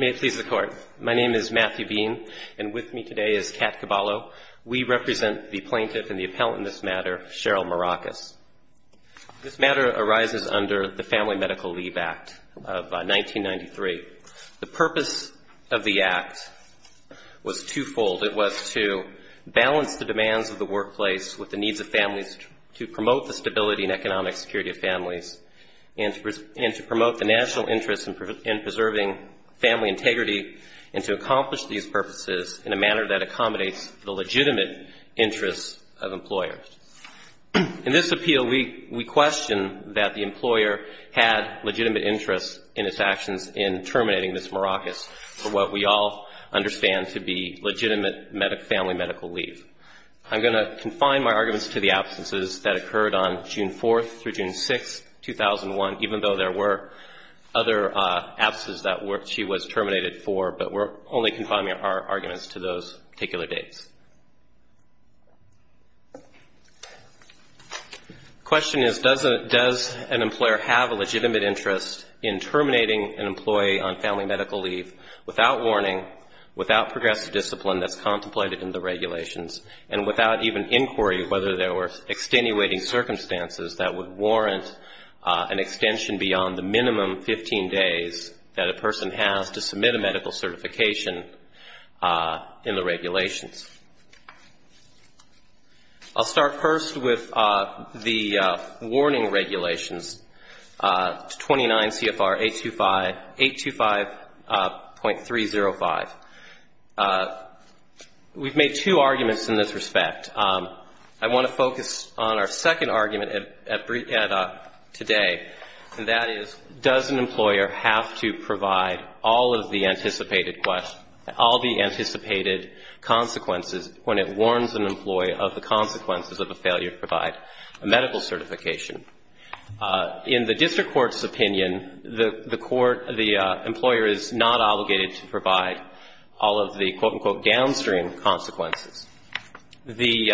May it please the court. My name is Matthew Bean and with me today is Kat Caballo. We represent the plaintiff and the appellant in this matter, Cheryl Maracas. This matter arises under the Family Medical Leave Act of 1993. The purpose of the act was twofold. It was to balance the demands of the workplace with the needs of families to promote the stability and economic security of families and to promote the national interest in preserving family integrity and to accomplish these purposes in a manner that accommodates the legitimate interests of employers. In this appeal, we question that the employer had legitimate interests in its actions in terminating this maracas for what we all understand to be legitimate family medical leave. I'm going to confine my arguments to the absences that occurred on June 4th through June 6th, 2001, even though there were other absences that she was terminated for, but we're only confining our arguments to those particular dates. The question is, does an employer have a legitimate interest in terminating an employee on family medical leave without warning, without progressive discipline that's contemplated in the regulations, and without even inquiry whether there were extenuating circumstances that would warrant an extension beyond the minimum 15 days that a person has to submit a medical certification in the regulations? I'll start first with the warning regulations, 29 CFR 825.305. We've made two arguments in this respect. I want to focus on our second argument at today, and that is, does an employer have to provide all of the anticipated consequences when it warns an employee of the consequences of a failure to provide a medical certification? In the district court's opinion, the court, the employer is not obligated to provide all of the, quote, unquote, downstream consequences. The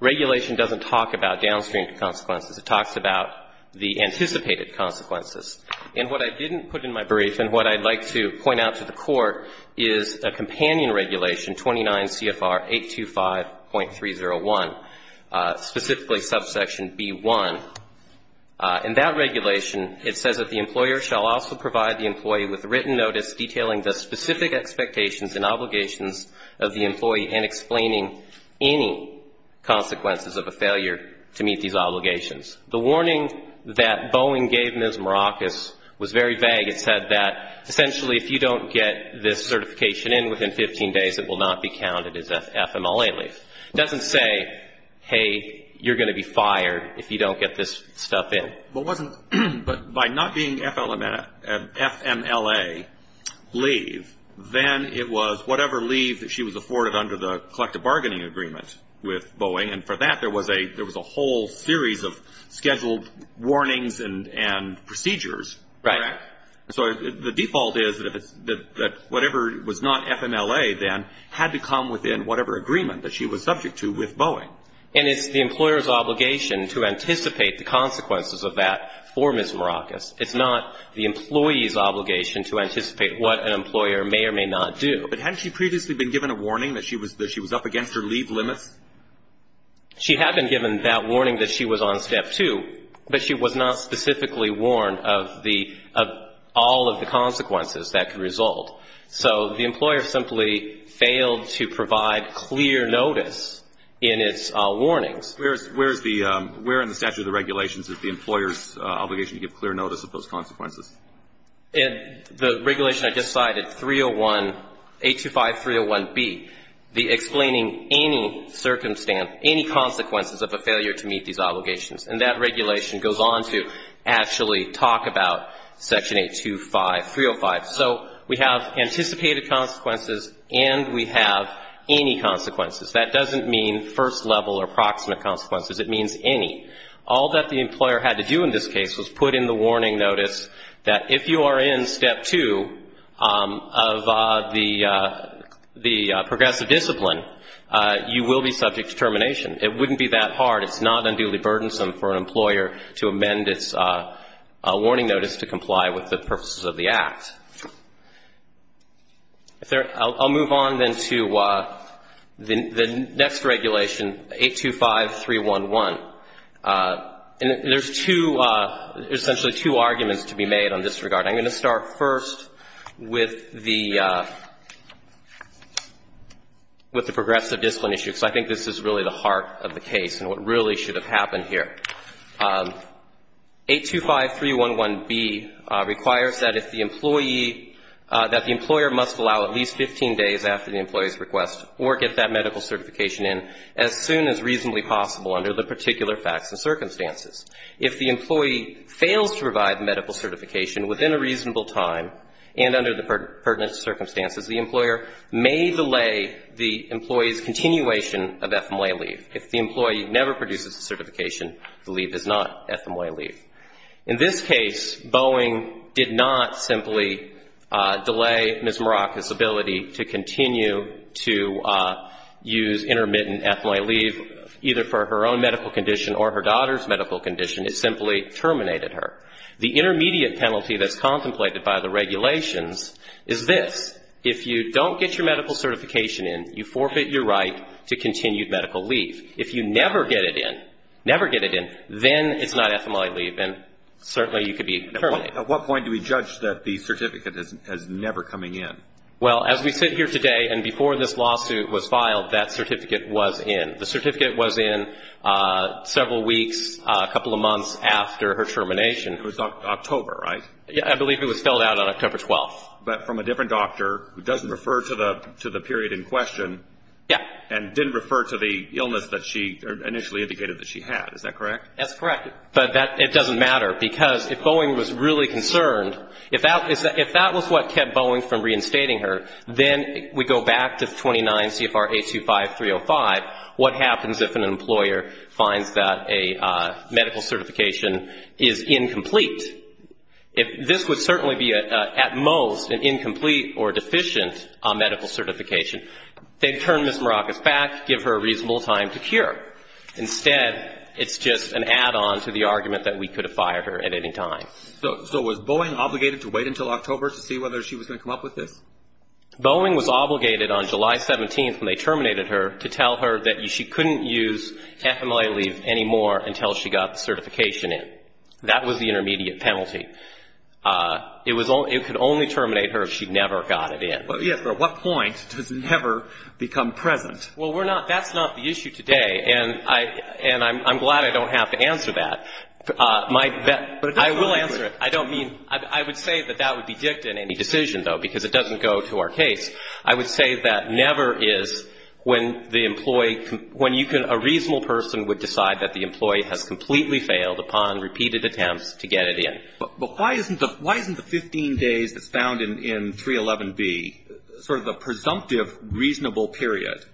regulation doesn't talk about downstream consequences. It talks about the anticipated consequences. And what I didn't put in my brief and what I'd like to point out to the Court is a companion regulation, 29 CFR 825.301, specifically subsection B1. In that regulation, it says that the employer shall also provide the employee with written notice detailing the specific expectations and obligations of the employee and explaining any consequences of a failure to meet these obligations. The warning that Boeing gave Ms. Maracas was very vague. It said that, essentially, if you don't get this certification in within 15 days, it will not be counted as FMLA leave. It doesn't say, hey, you're going to be fired if you don't get this stuff in. But wasn't, but by not being FMLA leave, then it was whatever leave that she was afforded under the collective bargaining agreement with Boeing. And for that, there was a, there was a whole series of scheduled warnings and procedures. Right. So the default is that whatever was not FMLA, then, had to come within whatever agreement that she was subject to with Boeing. And it's the employer's obligation to anticipate the consequences of that for Ms. Maracas. It's not the employee's obligation to anticipate what an employer may or may not do. But hadn't she previously been given a warning that she was up against her leave limits? She had been given that warning that she was on step two, but she was not specifically warned of the, of all of the consequences that could result. So the employer simply failed to provide clear notice in its warnings. Where is, where is the, where in the statute of the regulations is the employer's obligation to give clear notice of those consequences? In the regulation I just cited, 301, 825.301B, the explaining any circumstance, any consequences of a failure to meet these obligations. And that regulation goes on to actually talk about Section 825.305. So we have anticipated consequences and we have any consequences. That doesn't mean first level or proximate consequences. It means any. All that the employer had to do in this case was put in the warning notice that if you are in step two of the, the progressive discipline, you will be subject to termination. It wouldn't be that hard. It's not unduly burdensome for an employer to amend its warning notice to comply with the purposes of the Act. I'll move on then to the next regulation, 825.311. And there's two, essentially two arguments to be made on this regard. I'm going to start first with the, with the progressive discipline issue, because I think this is really the heart of the case and what really should have happened here. 825.311B requires that if the employee, that the employer must allow at least 15 days after the employee's request or get that medical certification in as soon as reasonably possible under the particular facts and circumstances. If the employee fails to provide medical certification within a reasonable time and under the pertinent circumstances, the employer may delay the employee's continuation of FMLA leave. If the employee never produces the certification, the leave is not FMLA leave. In this case, Boeing did not simply delay Ms. Morocca's ability to continue to use intermittent FMLA leave either for her own medical condition or her daughter's medical condition. It simply terminated her. The intermediate penalty that's contemplated by the regulations is this. If you don't get your medical certification in, you forfeit your right to continued medical leave. If you never get it in, never get it in, then it's not FMLA leave and certainly you could be terminated. At what point do we judge that the certificate is never coming in? Well, as we sit here today and before this lawsuit was filed, that certificate was in. The certificate was in several weeks, a couple of months after her termination. It was October, right? I believe it was filled out on October 12th. But from a different doctor who doesn't refer to the period in question. Yeah. And didn't refer to the illness that she initially indicated that she had. Is that correct? That's correct. But it doesn't matter because if Boeing was really concerned, if that was what kept Boeing from reinstating her, then we go back to 29 CFR 825-305, what happens if an employer finds that a medical certification is incomplete? If this would certainly be at most an incomplete or deficient medical certification, they'd turn Ms. Maracas back, give her a reasonable time to cure. Instead, it's just an add-on to the argument that we could have fired her at any time. So was Boeing obligated to wait until October to see whether she was going to come up with this? Boeing was obligated on July 17th, when they terminated her, to tell her that she couldn't use FMLA leave anymore until she got the certification in. That was the intermediate penalty. It could only terminate her if she never got it in. Yes, but at what point does never become present? Well, that's not the issue today, and I'm glad I don't have to answer that. I will answer it. I would say that that would be dicta in any decision, though, because it doesn't go to our case. I would say that never is when a reasonable person would decide that the employee has completely failed upon repeated attempts to get it in. But why isn't the 15 days that's found in 311B sort of a presumptive, reasonable period,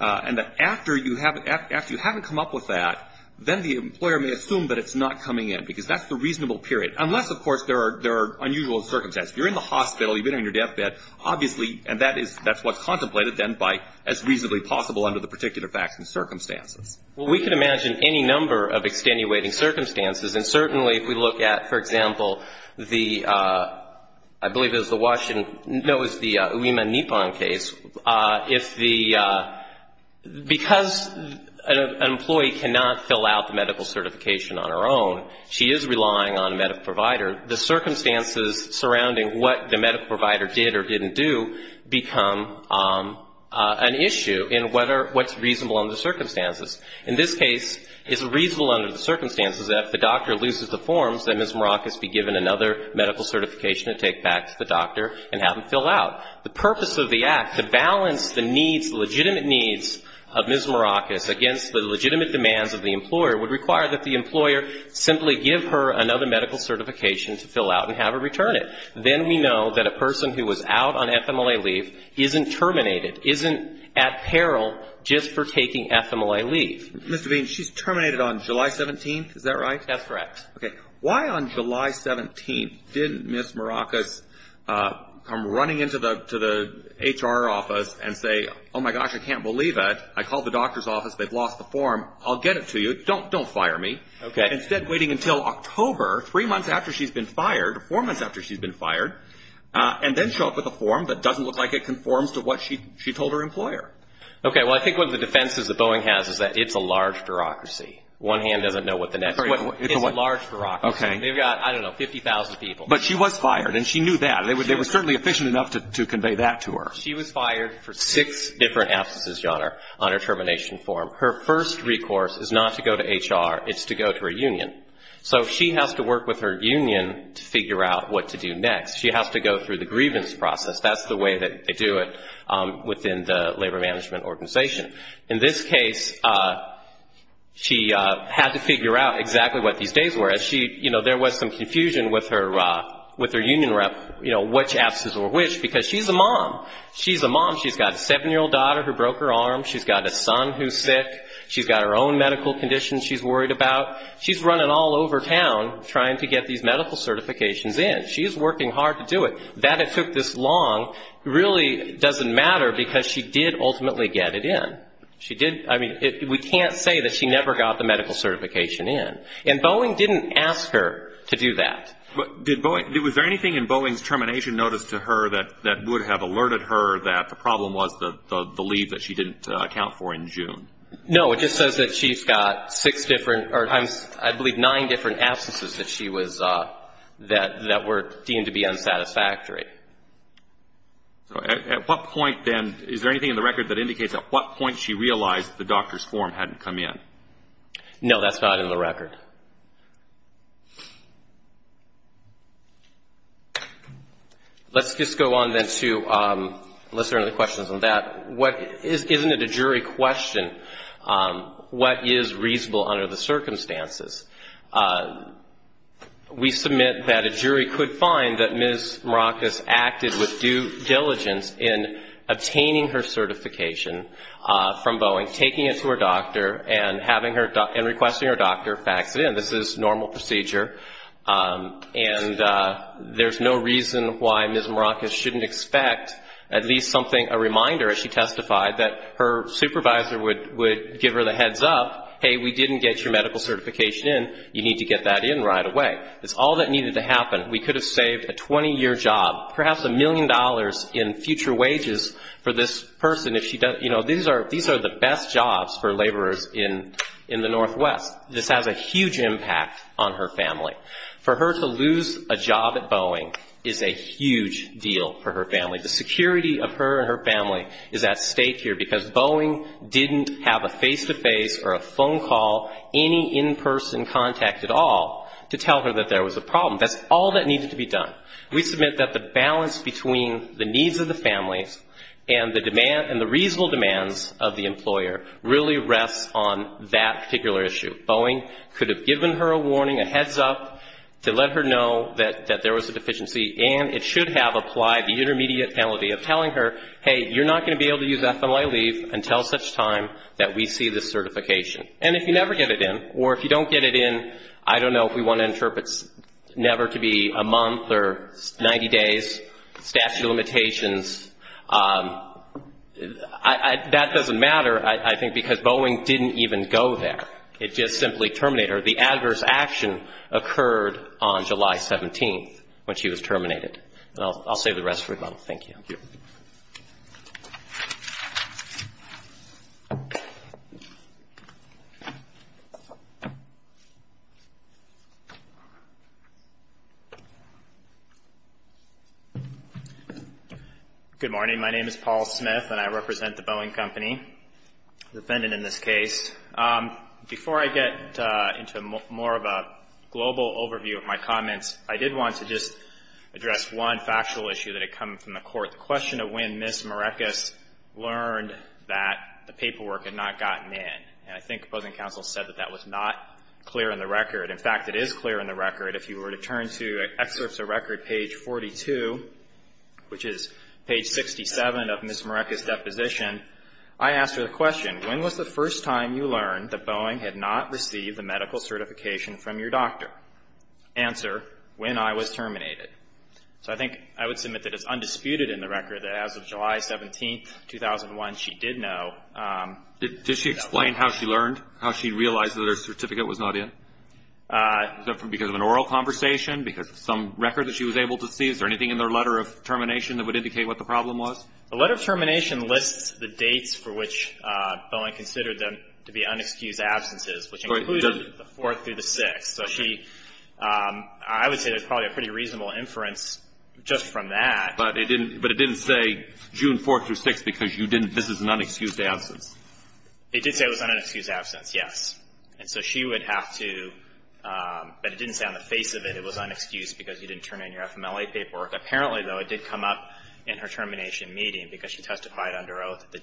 and that after you haven't come up with that, then the employer may assume that it's not coming in, because that's the reasonable period, unless, of course, there are unusual circumstances. If you're in the hospital, you've been in your deathbed, obviously, and that's what's contemplated then by as reasonably possible under the particular facts and circumstances. Well, we can imagine any number of extenuating circumstances. And certainly if we look at, for example, the — I believe it was the Washington — no, it was the Uema-Nippon case. If the — because an employee cannot fill out the medical certification on her own, she is relying on a medical provider, the circumstances surrounding what the medical provider did or didn't do become an issue in what's reasonable under the circumstances. In this case, it's reasonable under the circumstances that if the doctor loses the forms, that Ms. Marakis be given another medical certification to take back to the doctor and have them fill out. The purpose of the Act, to balance the needs, the legitimate needs of Ms. Marakis against the legitimate demands of the employer, would require that the employer simply give her another medical certification to fill out and have her return it. Then we know that a person who was out on FMLA leave isn't terminated, isn't at peril just for taking FMLA leave. Mr. Bean, she's terminated on July 17th. Is that right? That's correct. Okay. Why on July 17th didn't Ms. Marakis come running into the HR office and say, oh, my gosh, I can't believe it. I called the doctor's office. They've lost the form. I'll get it to you. Don't fire me. Instead, waiting until October, three months after she's been fired, four months after she's been fired, and then show up with a form that doesn't look like it conforms to what she told her employer. Okay, well, I think one of the defenses that Boeing has is that it's a large bureaucracy. One hand doesn't know what the next. It's a large bureaucracy. They've got, I don't know, 50,000 people. But she was fired, and she knew that. They were certainly efficient enough to convey that to her. She was fired for six different absences, Your Honor, on her termination form. Her first recourse is not to go to HR. It's to go to her union. So she has to work with her union to figure out what to do next. She has to go through the grievance process. That's the way that they do it within the labor management organization. In this case, she had to figure out exactly what these days were. There was some confusion with her union rep, which absence or which, because she's a mom. She's a mom. She's got a seven-year-old daughter who broke her arm. She's got a son who's sick. She's got her own medical conditions she's worried about. She's running all over town trying to get these medical certifications in. She's working hard to do it. That it took this long really doesn't matter because she did ultimately get it in. We can't say that she never got the medical certification in. And Boeing didn't ask her to do that. Was there anything in Boeing's termination notice to her that would have alerted her that the problem was the leave that she didn't account for in June? No. It just says that she's got six different or I believe nine different absences that were deemed to be unsatisfactory. Is there anything in the record that indicates at what point she realized the doctor's form hadn't come in? No, that's not in the record. Let's just go on then to unless there are any questions on that. Isn't it a jury question what is reasonable under the circumstances? We submit that a jury could find that Ms. Maracas acted with due diligence in obtaining her certification from Boeing, taking it to her doctor and requesting her doctor fax it in. This is normal procedure. And there's no reason why Ms. Maracas shouldn't expect at least something, a reminder as she testified that her supervisor would give her the heads up, hey, we didn't get your medical certification in. You need to get that in right away. It's all that needed to happen. We could have saved a 20-year job, perhaps a million dollars in future wages for this person. These are the best jobs for laborers in the Northwest. This has a huge impact on her family. For her to lose a job at Boeing is a huge deal for her family. The security of her and her family is at stake here because Boeing didn't have a face-to-face or a phone call, any in-person contact at all to tell her that there was a problem. That's all that needed to be done. We submit that the balance between the needs of the families and the reasonable demands of the employer really rests on that particular issue. Boeing could have given her a warning, a heads up to let her know that there was a deficiency, and it should have applied the intermediate penalty of telling her, hey, you're not going to be able to use FMLA leave until such time that we see this certification. And if you never get it in, or if you don't get it in, I don't know if we want to interpret never to be a month or 90 days, statute of limitations. That doesn't matter, I think, because Boeing didn't even go there. It just simply terminated her. The adverse action occurred on July 17th when she was terminated. I'll save the rest for you all. Thank you. Good morning. My name is Paul Smith, and I represent the Boeing Company, defendant in this case. Before I get into more of a global overview of my comments, I did want to just address one factual issue that had come from the court, the question of when Ms. Marekis learned that the paperwork had not gotten in. And I think opposing counsel said that that was not clear in the record. In fact, it is clear in the record. If you were to turn to excerpts of record page 42, which is page 67 of Ms. Marekis' deposition, I asked her the question, when was the first time you learned that Boeing had not received the medical certification from your doctor? Answer, when I was terminated. So I think I would submit that it's undisputed in the record that as of July 17th, 2001, she did know. Did she explain how she learned, how she realized that her certificate was not in? Was that because of an oral conversation, because of some record that she was able to see? Is there anything in her letter of termination that would indicate what the problem was? The letter of termination lists the dates for which Boeing considered them to be unexcused absences, which included the 4th through the 6th. So she, I would say there's probably a pretty reasonable inference just from that. But it didn't say June 4th through 6th because you didn't, this is an unexcused absence. It did say it was an unexcused absence, yes. And so she would have to, but it didn't say on the face of it it was unexcused because you didn't turn in your FMLA paperwork. Apparently, though, it did come up in her termination meeting because she testified under oath that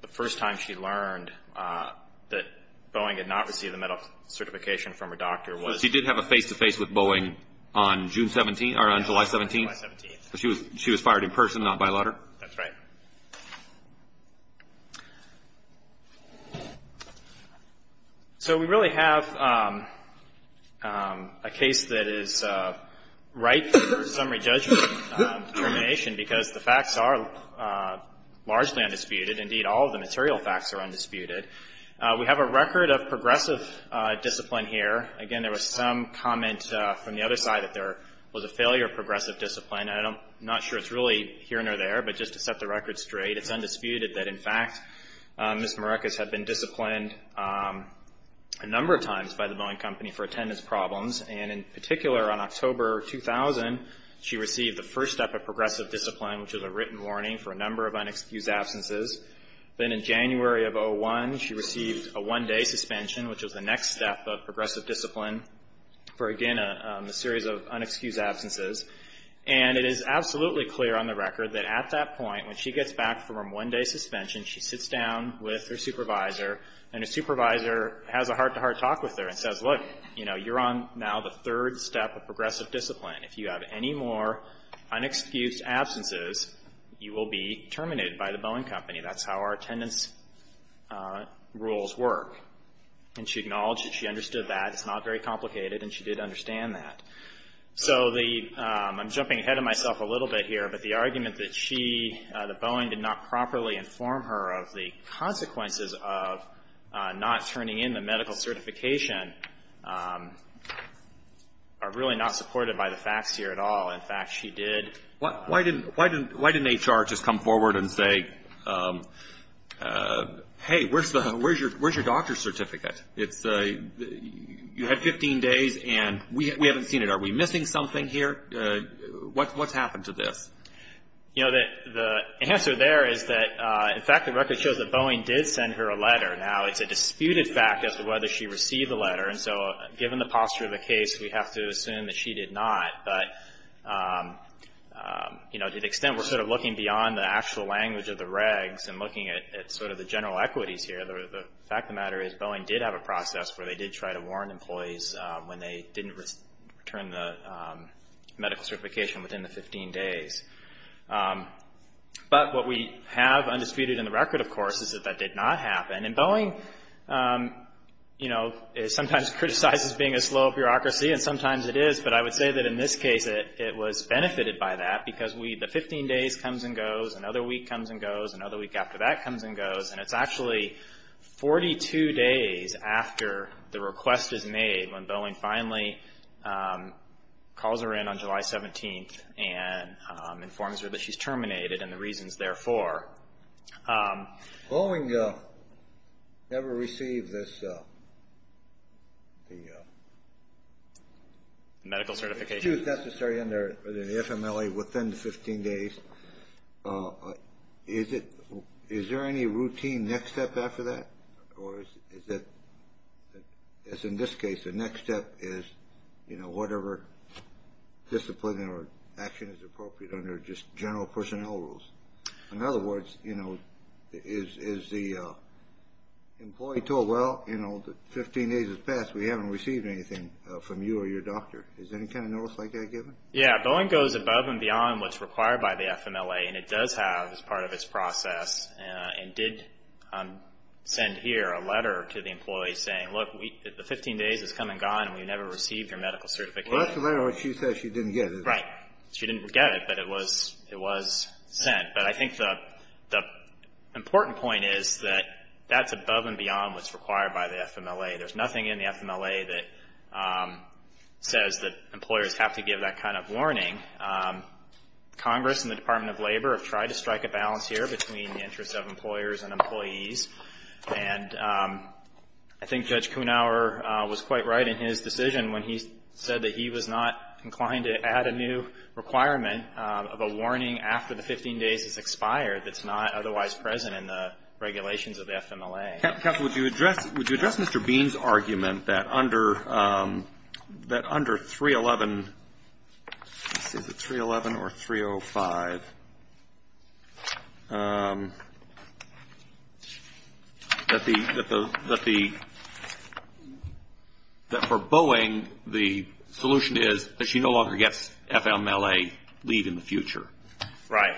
the first time she learned that Boeing had not received the medical certification from her doctor was She did have a face-to-face with Boeing on June 17th, or on July 17th? July 17th. She was fired in person, not by letter? That's right. So we really have a case that is ripe for summary judgment termination because the facts are largely undisputed. Indeed, all of the material facts are undisputed. We have a record of progressive discipline here. Again, there was some comment from the other side that there was a failure of progressive discipline. I'm not sure it's really here nor there. But just to set the record straight, it's undisputed that, in fact, Ms. Marekis had been disciplined a number of times by the Boeing Company for attendance problems. And in particular, on October 2000, she received the first step of progressive discipline, which was a written warning for a number of unexcused absences. Then in January of 2001, she received a one-day suspension, which was the next step of progressive discipline for, again, a series of unexcused absences. And it is absolutely clear on the record that at that point, when she gets back from one-day suspension, she sits down with her supervisor, and her supervisor has a heart-to-heart talk with her and says, Look, you know, you're on now the third step of progressive discipline. If you have any more unexcused absences, you will be terminated by the Boeing Company. That's how our attendance rules work. And she acknowledged that she understood that. It's not very complicated, and she did understand that. So I'm jumping ahead of myself a little bit here, but the argument that she, that Boeing did not properly inform her of the consequences of not turning in the medical certification are really not supported by the facts here at all. In fact, she did. Why didn't HR just come forward and say, Hey, where's your doctor's certificate? You had 15 days, and we haven't seen it. Are we missing something here? What's happened to this? You know, the answer there is that, in fact, the record shows that Boeing did send her a letter. Now, it's a disputed fact as to whether she received the letter, and so given the posture of the case, we have to assume that she did not. But, you know, to the extent we're sort of looking beyond the actual language of the regs and looking at sort of the general equities here, the fact of the matter is Boeing did have a process where they did try to warn employees when they didn't return the medical certification within the 15 days. But what we have undisputed in the record, of course, is that that did not happen, and Boeing, you know, sometimes criticizes being a slow bureaucracy, and sometimes it is, but I would say that in this case it was benefited by that because the 15 days comes and goes, another week comes and goes, another week after that comes and goes, and it's actually 42 days after the request is made when Boeing finally calls her in on July 17th and informs her that she's terminated and the reasons therefore. Boeing never received this, the medical certification necessary under the FMLA within the 15 days. Is there any routine next step after that? Or is it, as in this case, the next step is, you know, whatever discipline or action is appropriate under just general personnel rules? In other words, you know, is the employee told, well, you know, 15 days has passed, we haven't received anything from you or your doctor. Is there any kind of notice like that given? Yeah, Boeing goes above and beyond what's required by the FMLA, and it does have as part of its process and did send here a letter to the employee saying, look, the 15 days has come and gone and we've never received your medical certification. Well, that's the letter she says she didn't get, isn't it? Right. She didn't get it, but it was sent. But I think the important point is that that's above and beyond what's required by the FMLA. There's nothing in the FMLA that says that employers have to give that kind of warning. Congress and the Department of Labor have tried to strike a balance here between the interests of employers and employees, and I think Judge Kuhnhauer was quite right in his decision when he said that he was not inclined to add a new requirement of a warning after the 15 days has expired that's not otherwise present in the regulations of the FMLA. Counsel, would you address Mr. Bean's argument that under 311, is it 311 or 305, that for Boeing, the solution is that she no longer gets FMLA leave in the future? Right.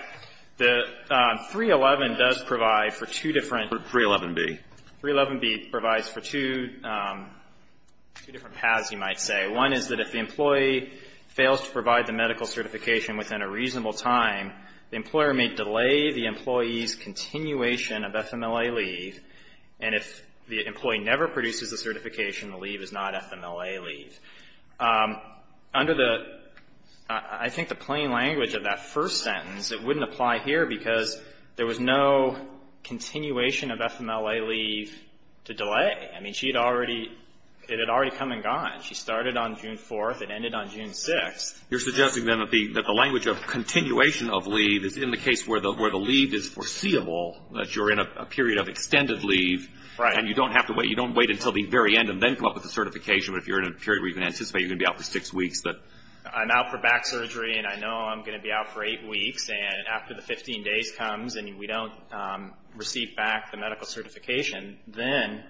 311 does provide for two different. 311B. 311B provides for two different paths, you might say. One is that if the employee fails to provide the medical certification within a reasonable time, the employer may delay the employee's continuation of FMLA leave, and if the employee never produces the certification, the leave is not FMLA leave. Under the, I think, the plain language of that first sentence, it wouldn't apply here because there was no continuation of FMLA leave to delay. I mean, she had already, it had already come and gone. She started on June 4th and ended on June 6th. You're suggesting, then, that the language of continuation of leave is in the case where the leave is foreseeable, that you're in a period of extended leave. Right. And you don't have to wait. You don't wait until the very end and then come up with the certification, but if you're in a period where you can anticipate you're going to be out for six weeks. I'm out for back surgery, and I know I'm going to be out for eight weeks, and after the 15 days comes and we don't receive back the medical certification, then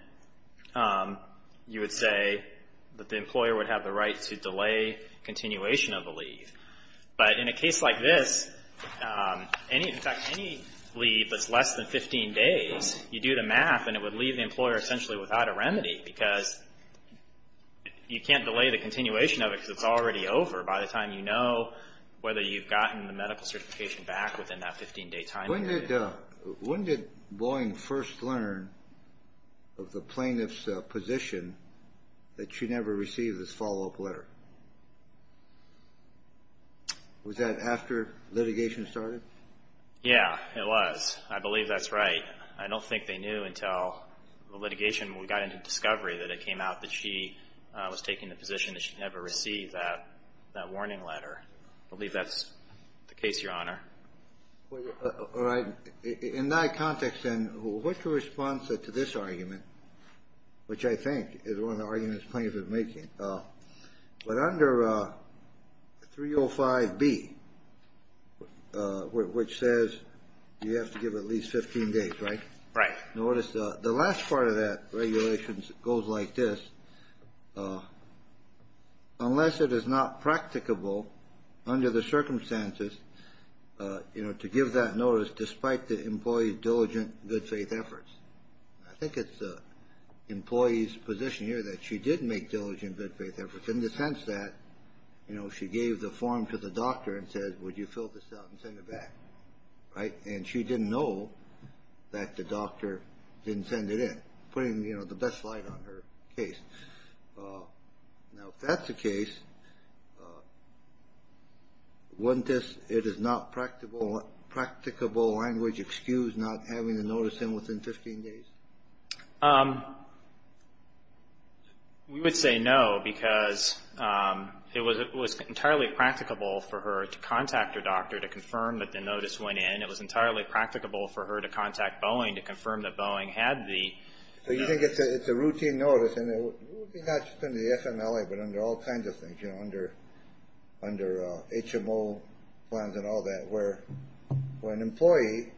you would say that the employer would have the right to delay continuation of the leave. But in a case like this, in fact, any leave that's less than 15 days, you do the math and it would leave the employer essentially without a remedy because you can't delay the continuation of it because it's already over by the time you know whether you've gotten the medical certification back within that 15-day time period. When did Boeing first learn of the plaintiff's position that she never received this follow-up letter? Was that after litigation started? Yeah, it was. I believe that's right. I don't think they knew until the litigation got into discovery that it came out that she was taking the position that she never received that warning letter. I believe that's the case, Your Honor. All right. In that context, then, what's the response to this argument, which I think is one of the arguments the plaintiff is making? But under 305B, which says you have to give at least 15 days, right? Right. Notice the last part of that regulation goes like this. Unless it is not practicable under the circumstances, you know, to give that notice despite the employee's diligent good faith efforts. I think it's the employee's position here that she did make diligent good faith efforts in the sense that, you know, she gave the form to the doctor and said, would you fill this out and send it back? Right? And she didn't know that the doctor didn't send it in, putting, you know, the best light on her case. Now, if that's the case, wouldn't this, it is not practicable language, excuse not having the notice in within 15 days? We would say no because it was entirely practicable for her to contact her doctor to confirm that the notice went in. It was entirely practicable for her to contact Boeing to confirm that Boeing had the notice. So you think it's a routine notice and it would be not just under the FMLA but under all kinds of things, you know, under HMO plans and all that where when an employee,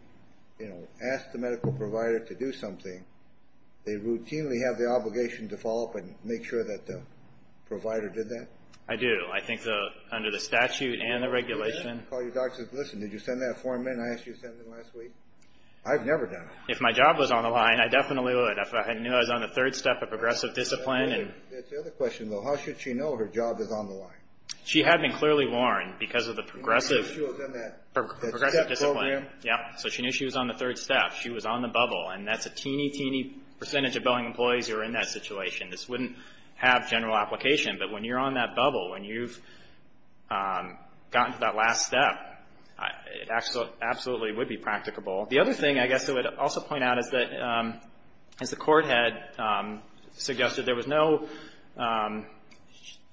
you know, asks the medical provider to do something, they routinely have the obligation to follow up and make sure that the provider did that? I do. I think under the statute and the regulation. Do you ever call your doctor and say, listen, did you send that form in? I asked you to send it in last week. I've never done it. If my job was on the line, I definitely would. If I knew I was on the third step of progressive discipline. That's the other question, though. How should she know her job is on the line? She had been clearly warned because of the progressive discipline. So she knew she was on the third step. She was on the bubble. And that's a teeny, teeny percentage of Boeing employees who are in that situation. This wouldn't have general application. But when you're on that bubble, when you've gotten to that last step, it absolutely would be practicable. The other thing I guess I would also point out is that as the Court had suggested, there was no ‑‑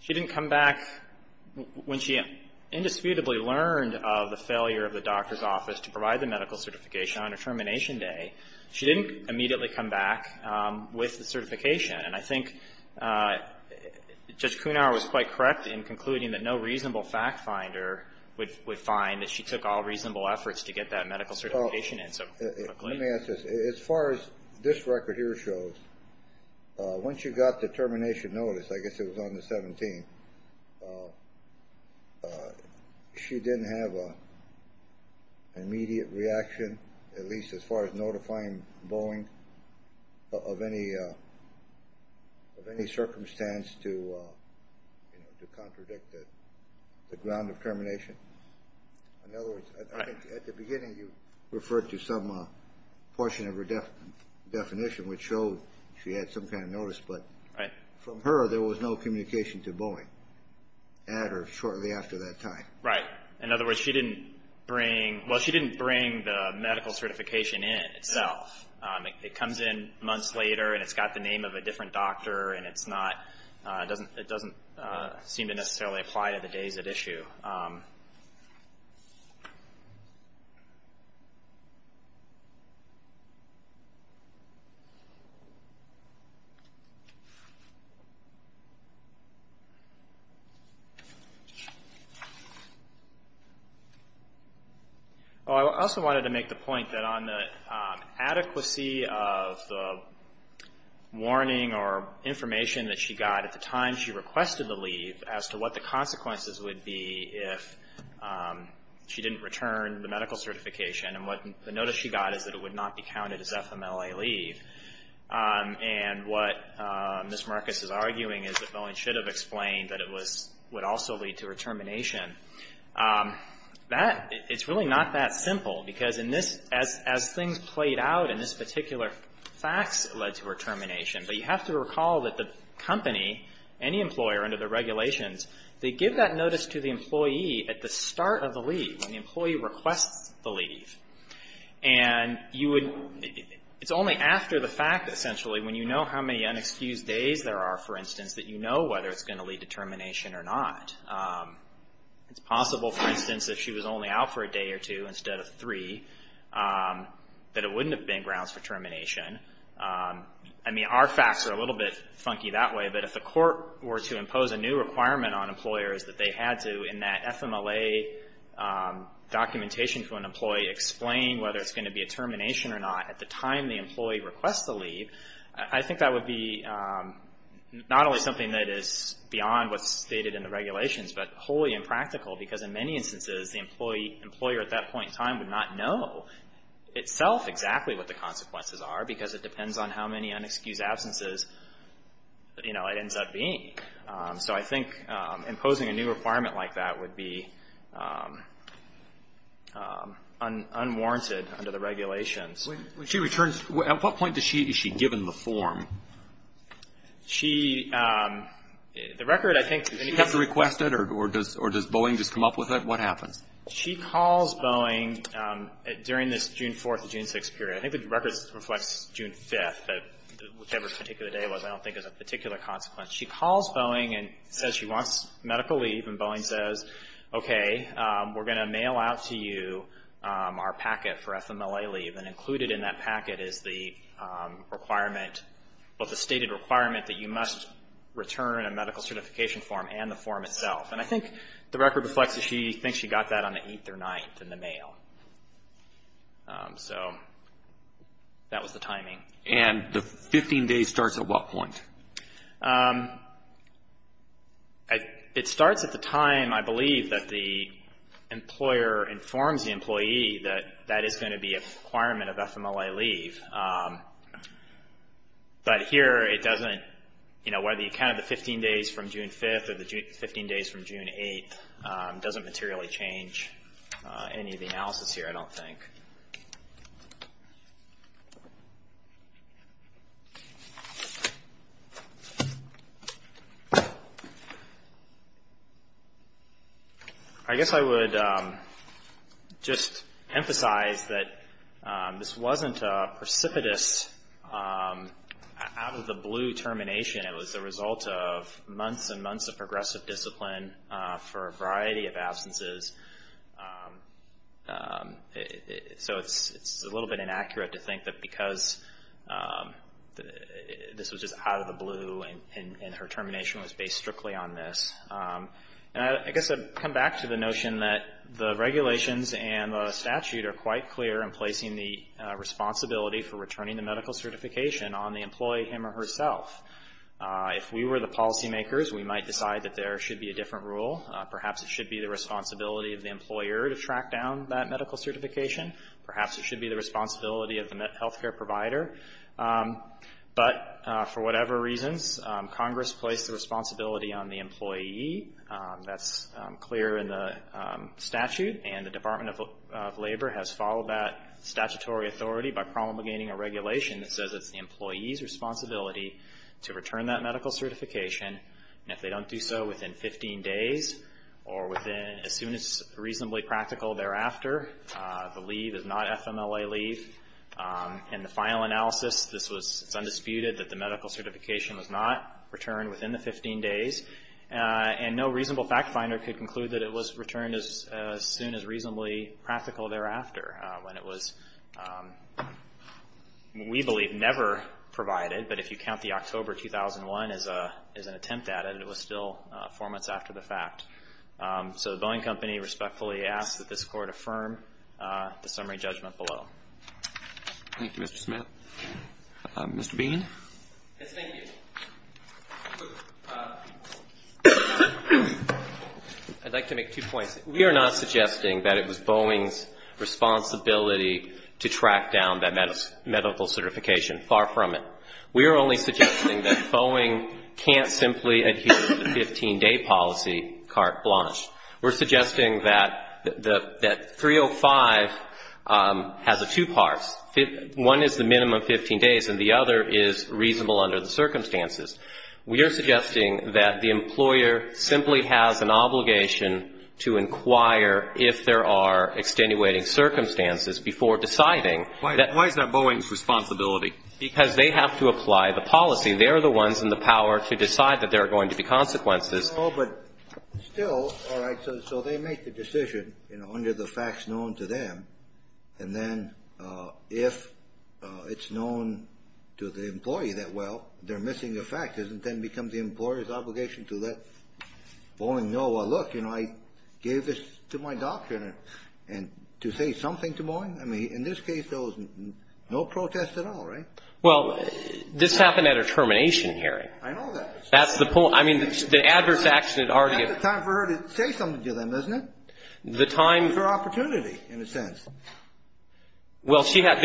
she didn't come back when she indisputably learned of the failure of the doctor's office to provide the medical certification on her termination day. She didn't immediately come back with the certification. And I think Judge Kunar was quite correct in concluding that no reasonable fact finder would find that she took all reasonable efforts to get that medical certification in. Let me ask this. As far as this record here shows, when she got the termination notice, I guess it was on the 17th, she didn't have an immediate reaction, at least as far as notifying Boeing of any circumstance to contradict the ground of termination. In other words, I think at the beginning you referred to some portion of her definition, which showed she had some kind of notice. But from her, there was no communication to Boeing at or shortly after that time. Right. In other words, she didn't bring ‑‑ well, she didn't bring the medical certification in itself. It comes in months later and it's got the name of a different doctor and it doesn't seem to necessarily apply to the days at issue. Well, I also wanted to make the point that on the adequacy of the warning or information that she got at the time she requested the leave as to what the consequences would be if she didn't return the medical certification. And what the notice she got is that it would not be counted as FMLA leave. And what Ms. Marcus is arguing is that Boeing should have explained that it would also lead to her termination. That, it's really not that simple because in this, as things played out and this particular fax led to her termination. But you have to recall that the company, any employer under the regulations, they give that notice to the employee at the start of the leave, when the employee requests the leave. And you would, it's only after the fact, essentially, when you know how many unexcused days there are, for instance, that you know whether it's going to lead to termination or not. It's possible, for instance, if she was only out for a day or two instead of three, that it wouldn't have been grounds for termination. I mean, our facts are a little bit funky that way, but if the court were to impose a new requirement on employers that they had to, in that FMLA documentation for an employee, explain whether it's going to be a termination or not at the time the employee requests the leave, I think that would be not only something that is beyond what's stated in the regulations, but wholly impractical because in many instances, the employer at that point in time would not know itself exactly what the consequences are because it depends on how many unexcused absences, you know, it ends up being. So I think imposing a new requirement like that would be unwarranted under the regulations. When she returns, at what point is she given the form? She, the record I think She gets requested or does Boeing just come up with it? What happens? She calls Boeing during this June 4th to June 6th period. I think the record reflects June 5th, but whichever particular day it was, I don't think there's a particular consequence. She calls Boeing and says she wants medical leave, and Boeing says, okay, we're going to mail out to you our packet for FMLA leave, and included in that packet is the requirement, well, the stated requirement that you must return a medical certification form and the form itself. And I think the record reflects that she thinks she got that on the 8th or 9th in the mail. So that was the timing. And the 15 days starts at what point? It starts at the time, I believe, that the employer informs the employee that that is going to be a requirement of FMLA leave. But here it doesn't, you know, whether you count the 15 days from June 5th or the 15 days from June 8th doesn't materially change any of the analysis here, I don't think. I guess I would just emphasize that this wasn't a precipitous out-of-the-blue termination. It was the result of months and months of progressive discipline for a variety of absences. So it's a little bit inaccurate to think that because this was just out-of-the-blue and her termination was based strictly on this. I guess I'd come back to the notion that the regulations and the statute are quite clear in placing the responsibility for returning the medical certification on the employee, him or herself. If we were the policymakers, we might decide that there should be a different rule. Perhaps it should be the responsibility of the employer to track down that medical certification. Perhaps it should be the responsibility of the health care provider. But for whatever reasons, Congress placed the responsibility on the employee. That's clear in the statute. And the Department of Labor has followed that statutory authority by promulgating a regulation that says it's the employee's responsibility to return that medical certification. And if they don't do so within 15 days or as soon as reasonably practical thereafter, the leave is not FMLA leave. In the final analysis, it's undisputed that the medical certification was not returned within the 15 days. And no reasonable fact finder could conclude that it was returned as soon as reasonably practical thereafter when it was, we believe, never provided. But if you count the October 2001 as an attempt at it, it was still four months after the fact. So the Boeing Company respectfully asks that this Court affirm the summary judgment below. Thank you, Mr. Smith. Mr. Bean? Yes, thank you. I'd like to make two points. We are not suggesting that it was Boeing's responsibility to track down that medical certification. Far from it. We are only suggesting that Boeing can't simply adhere to the 15-day policy, carte blanche. We're suggesting that 305 has two parts. One is the minimum 15 days and the other is reasonable under the circumstances. We are suggesting that the employer simply has an obligation to inquire if there are extenuating circumstances before deciding. Why is that Boeing's responsibility? Because they have to apply the policy. They are the ones in the power to decide that there are going to be consequences. But still, all right, so they make the decision under the facts known to them. And then if it's known to the employee that, well, they're missing a fact, doesn't that become the employer's obligation to let Boeing know, well, look, you know, I gave this to my doctor. And to say something to Boeing? I mean, in this case, there was no protest at all, right? Well, this happened at a termination hearing. I know that. That's the point. I mean, the adverse action had already been. That's the time for her to say something to them, isn't it? The time. It was her opportunity, in a sense. Well, she had.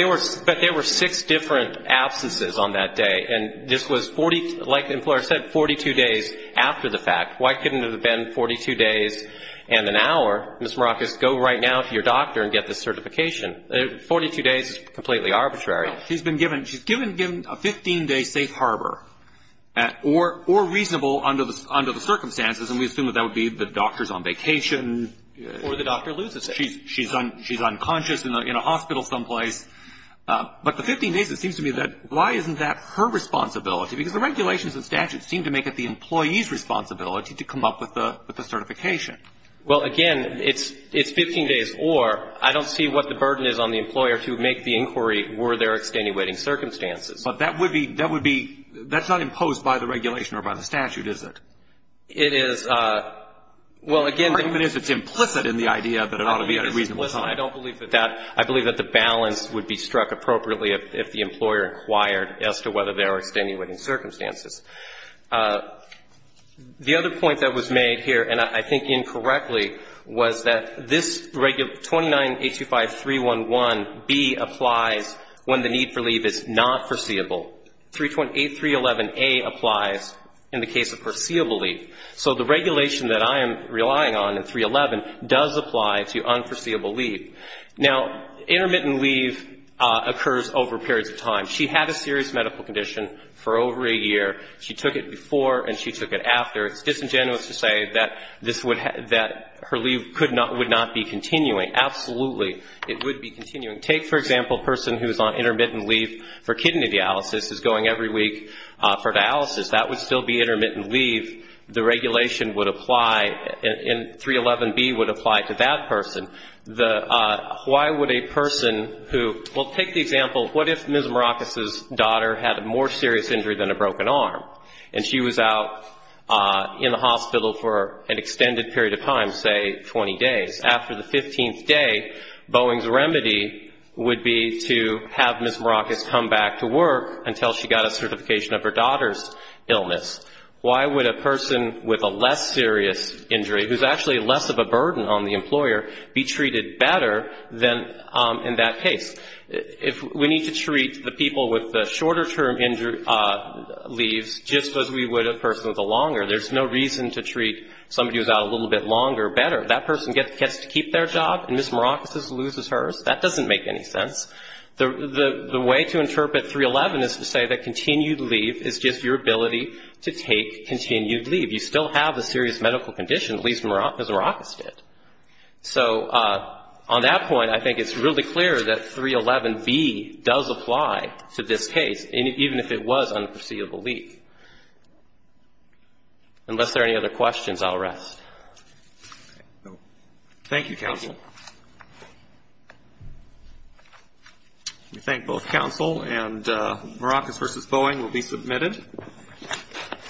But there were six different absences on that day. And this was, like the employer said, 42 days after the fact. Why couldn't it have been 42 days and an hour? Ms. Marakis, go right now to your doctor and get this certification. 42 days is completely arbitrary. She's been given a 15-day safe harbor or reasonable under the circumstances, and we assume that that would be the doctor's on vacation. Or the doctor loses it. She's unconscious in a hospital someplace. But the 15 days, it seems to me that why isn't that her responsibility? Because the regulations and statutes seem to make it the employee's responsibility to come up with the certification. Well, again, it's 15 days or. I don't see what the burden is on the employer to make the inquiry were there extenuating circumstances. But that would be, that would be, that's not imposed by the regulation or by the statute, is it? It is. Well, again. The argument is it's implicit in the idea that it ought to be at a reasonable time. I don't believe that that. I believe that the balance would be struck appropriately if the employer inquired as to whether there are extenuating circumstances. The other point that was made here, and I think incorrectly, was that this 29-825-311-B applies when the need for leave is not foreseeable. 311-A applies in the case of foreseeable leave. So the regulation that I am relying on in 311 does apply to unforeseeable leave. Now, intermittent leave occurs over periods of time. She had a serious medical condition for over a year. She took it before and she took it after. It's disingenuous to say that this would, that her leave could not, would not be continuing. Absolutely, it would be continuing. Take, for example, a person who is on intermittent leave for kidney dialysis is going every week for dialysis. That would still be intermittent leave. The regulation would apply, and 311-B would apply to that person. The, why would a person who, well, take the example, what if Ms. Maracas' daughter had a more serious injury than a broken arm, and she was out in the hospital for an extended period of time, say 20 days? After the 15th day, Boeing's remedy would be to have Ms. Maracas come back to work until she got a certification of her daughter's illness. Why would a person with a less serious injury, who's actually less of a burden on the employer, be treated better than in that case? If we need to treat the people with the shorter-term injury, leaves, just as we would a person with a longer. There's no reason to treat somebody who's out a little bit longer better. That person gets to keep their job, and Ms. Maracas loses hers. That doesn't make any sense. The way to interpret 311 is to say that continued leave is just your ability to take continued leave. You still have a serious medical condition, at least as Maracas did. So on that point, I think it's really clear that 311B does apply to this case, even if it was unforeseeable leave. Unless there are any other questions, I'll rest. Thank you, counsel. We thank both counsel, and Maracas v. Boeing will be submitted.